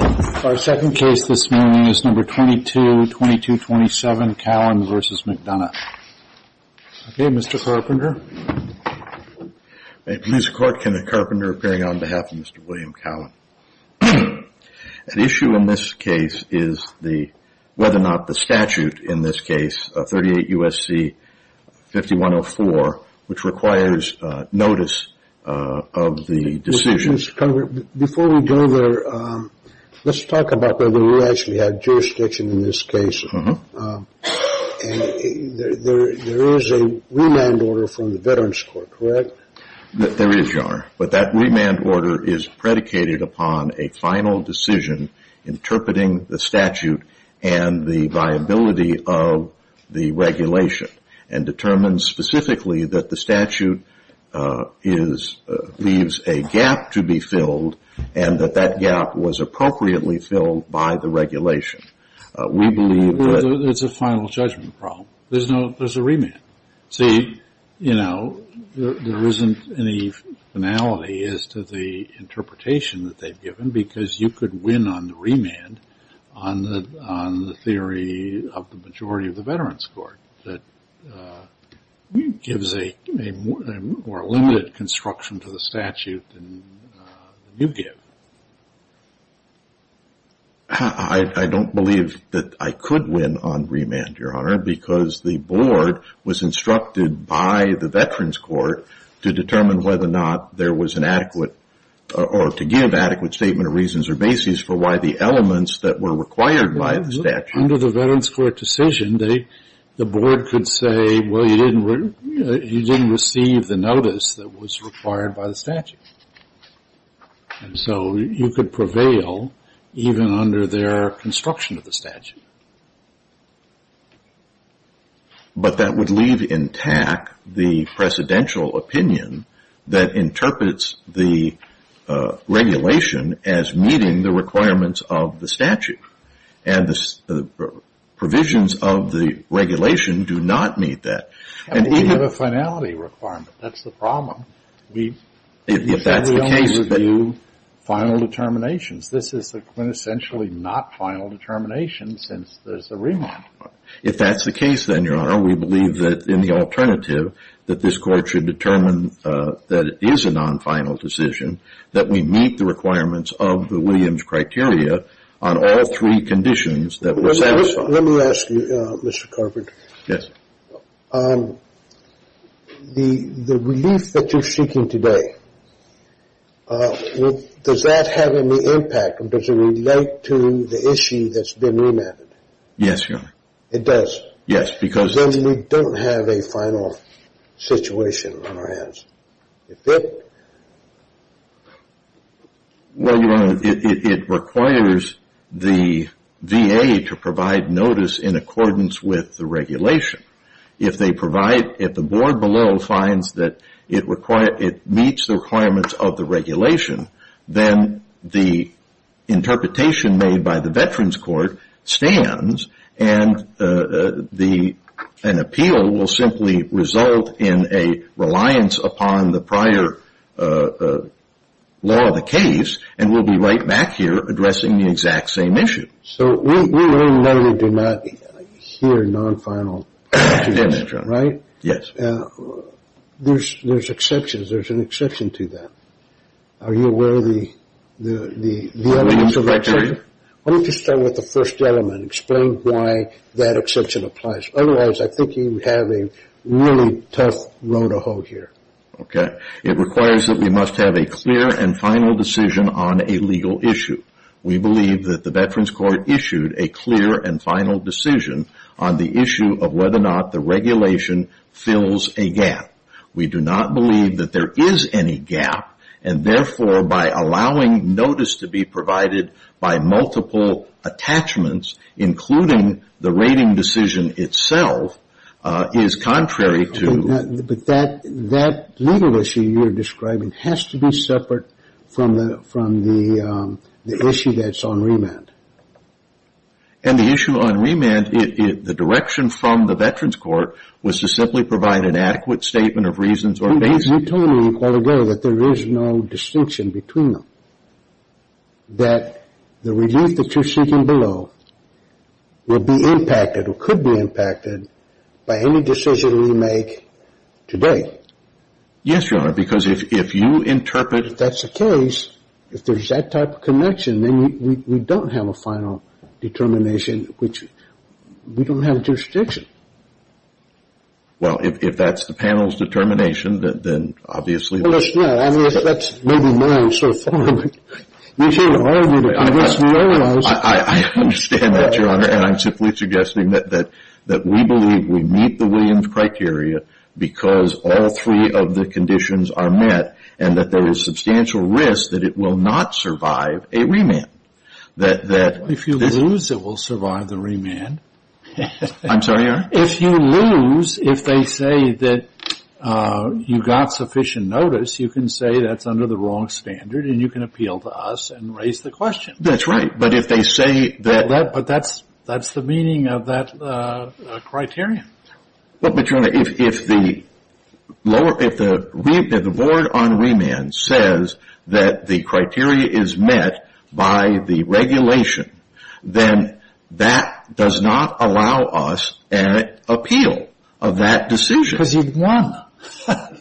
Our second case this morning is number 22227 Callan v. McDonough. Okay, Mr. Carpenter. May it please the Court, Kenneth Carpenter appearing on behalf of Mr. William Callan. The issue in this case is whether or not the statute in this case, 38 U.S.C. 5104, which requires notice of the decision. Mr. Carpenter, before we go there, let's talk about whether we actually have jurisdiction in this case. There is a remand order from the Veterans Court, correct? There is, Your Honor. But that remand order is predicated upon a final decision interpreting the statute and the viability of the regulation and determines specifically that the statute is, leaves a gap to be filled and that that gap was appropriately filled by the regulation. We believe that Well, it's a final judgment problem. There's no, there's a remand. See, you know, there isn't any finality as to the interpretation that they've given because you could win on the remand on the theory of the majority of the Veterans Court that gives a more limited construction to the statute than you give. I don't believe that I could win on remand, Your Honor, because the board was instructed by the Veterans Court to determine whether or not there was an adequate or to give adequate statement of reasons or basis for why the elements that were required by the statute Under the Veterans Court decision, the board could say, well, you didn't receive the notice that was required by the statute. And so you could prevail even under their construction of the statute. But that would leave intact the precedential opinion that interprets the regulation as meeting the requirements of the statute. And the provisions of the regulation do not meet that. And we have a finality requirement. That's the problem. If that's the case, then This is a quintessentially not final determination since there's a remand. If that's the case, then, Your Honor, we believe that in the alternative, that this court should determine that it is a non-final decision, that we meet the requirements of the Williams criteria on all three conditions that were satisfied. Let me ask you, Mr. Carpenter. Yes. The relief that you're seeking today, does that have any impact? Does it relate to the issue that's been remanded? Yes, Your Honor. It does? Yes, because Well, Your Honor, it requires the VA to provide notice in accordance with the regulation. If they provide, if the board below finds that it meets the requirements of the regulation, then the interpretation made by the Veterans Court stands, and an appeal will simply result in a reliance upon the prior law of the case, and we'll be right back here addressing the exact same issue. So we know you do not hear non-final decisions, right? Yes, Your Honor. Yes. There's exceptions. There's an exception to that. Are you aware of the other exceptions? The Williams criteria? Why don't you start with the first element, explain why that exception applies. Otherwise, I think you have a really tough road to hold here. Okay. It requires that we must have a clear and final decision on a legal issue. We believe that the Veterans Court issued a clear and final decision on the issue of whether or not the regulation fills a gap. We do not believe that there is any gap, and therefore by allowing notice to be provided by multiple attachments, including the rating decision itself, is contrary to. But that legal issue you're describing has to be separate from the issue that's on remand. And the issue on remand, the direction from the Veterans Court, was to simply provide an adequate statement of reasons or basis. You told me quite ago that there is no distinction between them, that the relief that you're seeking below will be impacted or could be impacted by any decision we make today. Yes, Your Honor, because if you interpret... If that's the case, if there's that type of connection, then we don't have a final determination, which we don't have jurisdiction. Well, if that's the panel's determination, then obviously... Well, let's know. I mean, if that's maybe mine, sort of following... We can't argue that... I understand that, Your Honor, and I'm simply suggesting that we believe we meet the Williams criteria because all three of the conditions are met and that there is substantial risk that it will not survive a remand. If you lose, it will survive the remand. I'm sorry, Your Honor? If you lose, if they say that you got sufficient notice, you can say that's under the wrong standard and you can appeal to us and raise the question. That's right, but if they say that... But that's the meaning of that criterion. But, Your Honor, if the board on remand says that the criteria is met by the regulation, then that does not allow us an appeal of that decision. Because you've won.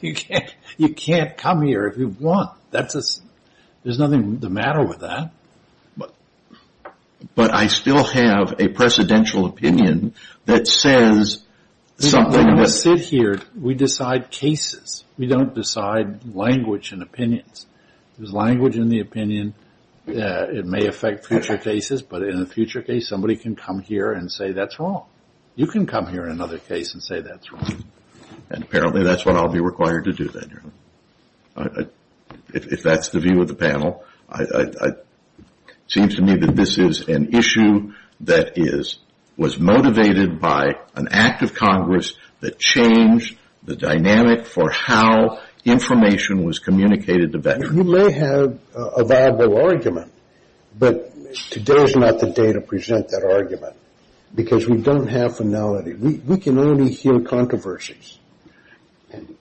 You can't come here if you've won. There's nothing the matter with that. But I still have a precedential opinion that says something... When we sit here, we decide cases. We don't decide language and opinions. There's language in the opinion. It may affect future cases, but in a future case, somebody can come here and say that's wrong. You can come here in another case and say that's wrong. If that's the view of the panel, it seems to me that this is an issue that was motivated by an act of Congress that changed the dynamic for how information was communicated to veterans. You may have a viable argument, but today is not the day to present that argument because we don't have finality. We can only hear controversies.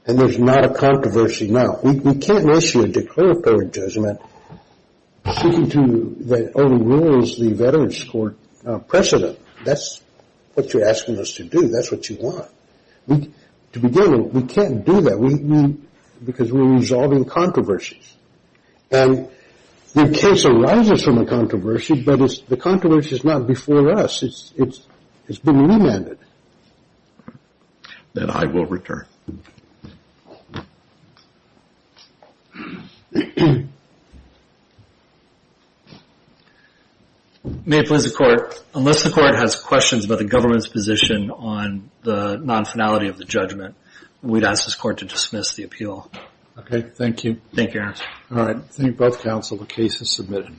And there's not a controversy now. We can't issue a declaratory judgment speaking to the old rules, the Veterans Court precedent. That's what you're asking us to do. That's what you want. To begin with, we can't do that because we're resolving controversies. And the case arises from a controversy, but the controversy is not before us. It's been remanded. Then I will return. May it please the Court, unless the Court has questions about the government's position on the non-finality of the judgment, we'd ask this Court to dismiss the appeal. Okay, thank you. Thank you, Your Honor. All right, thank you both, counsel. The case is submitted.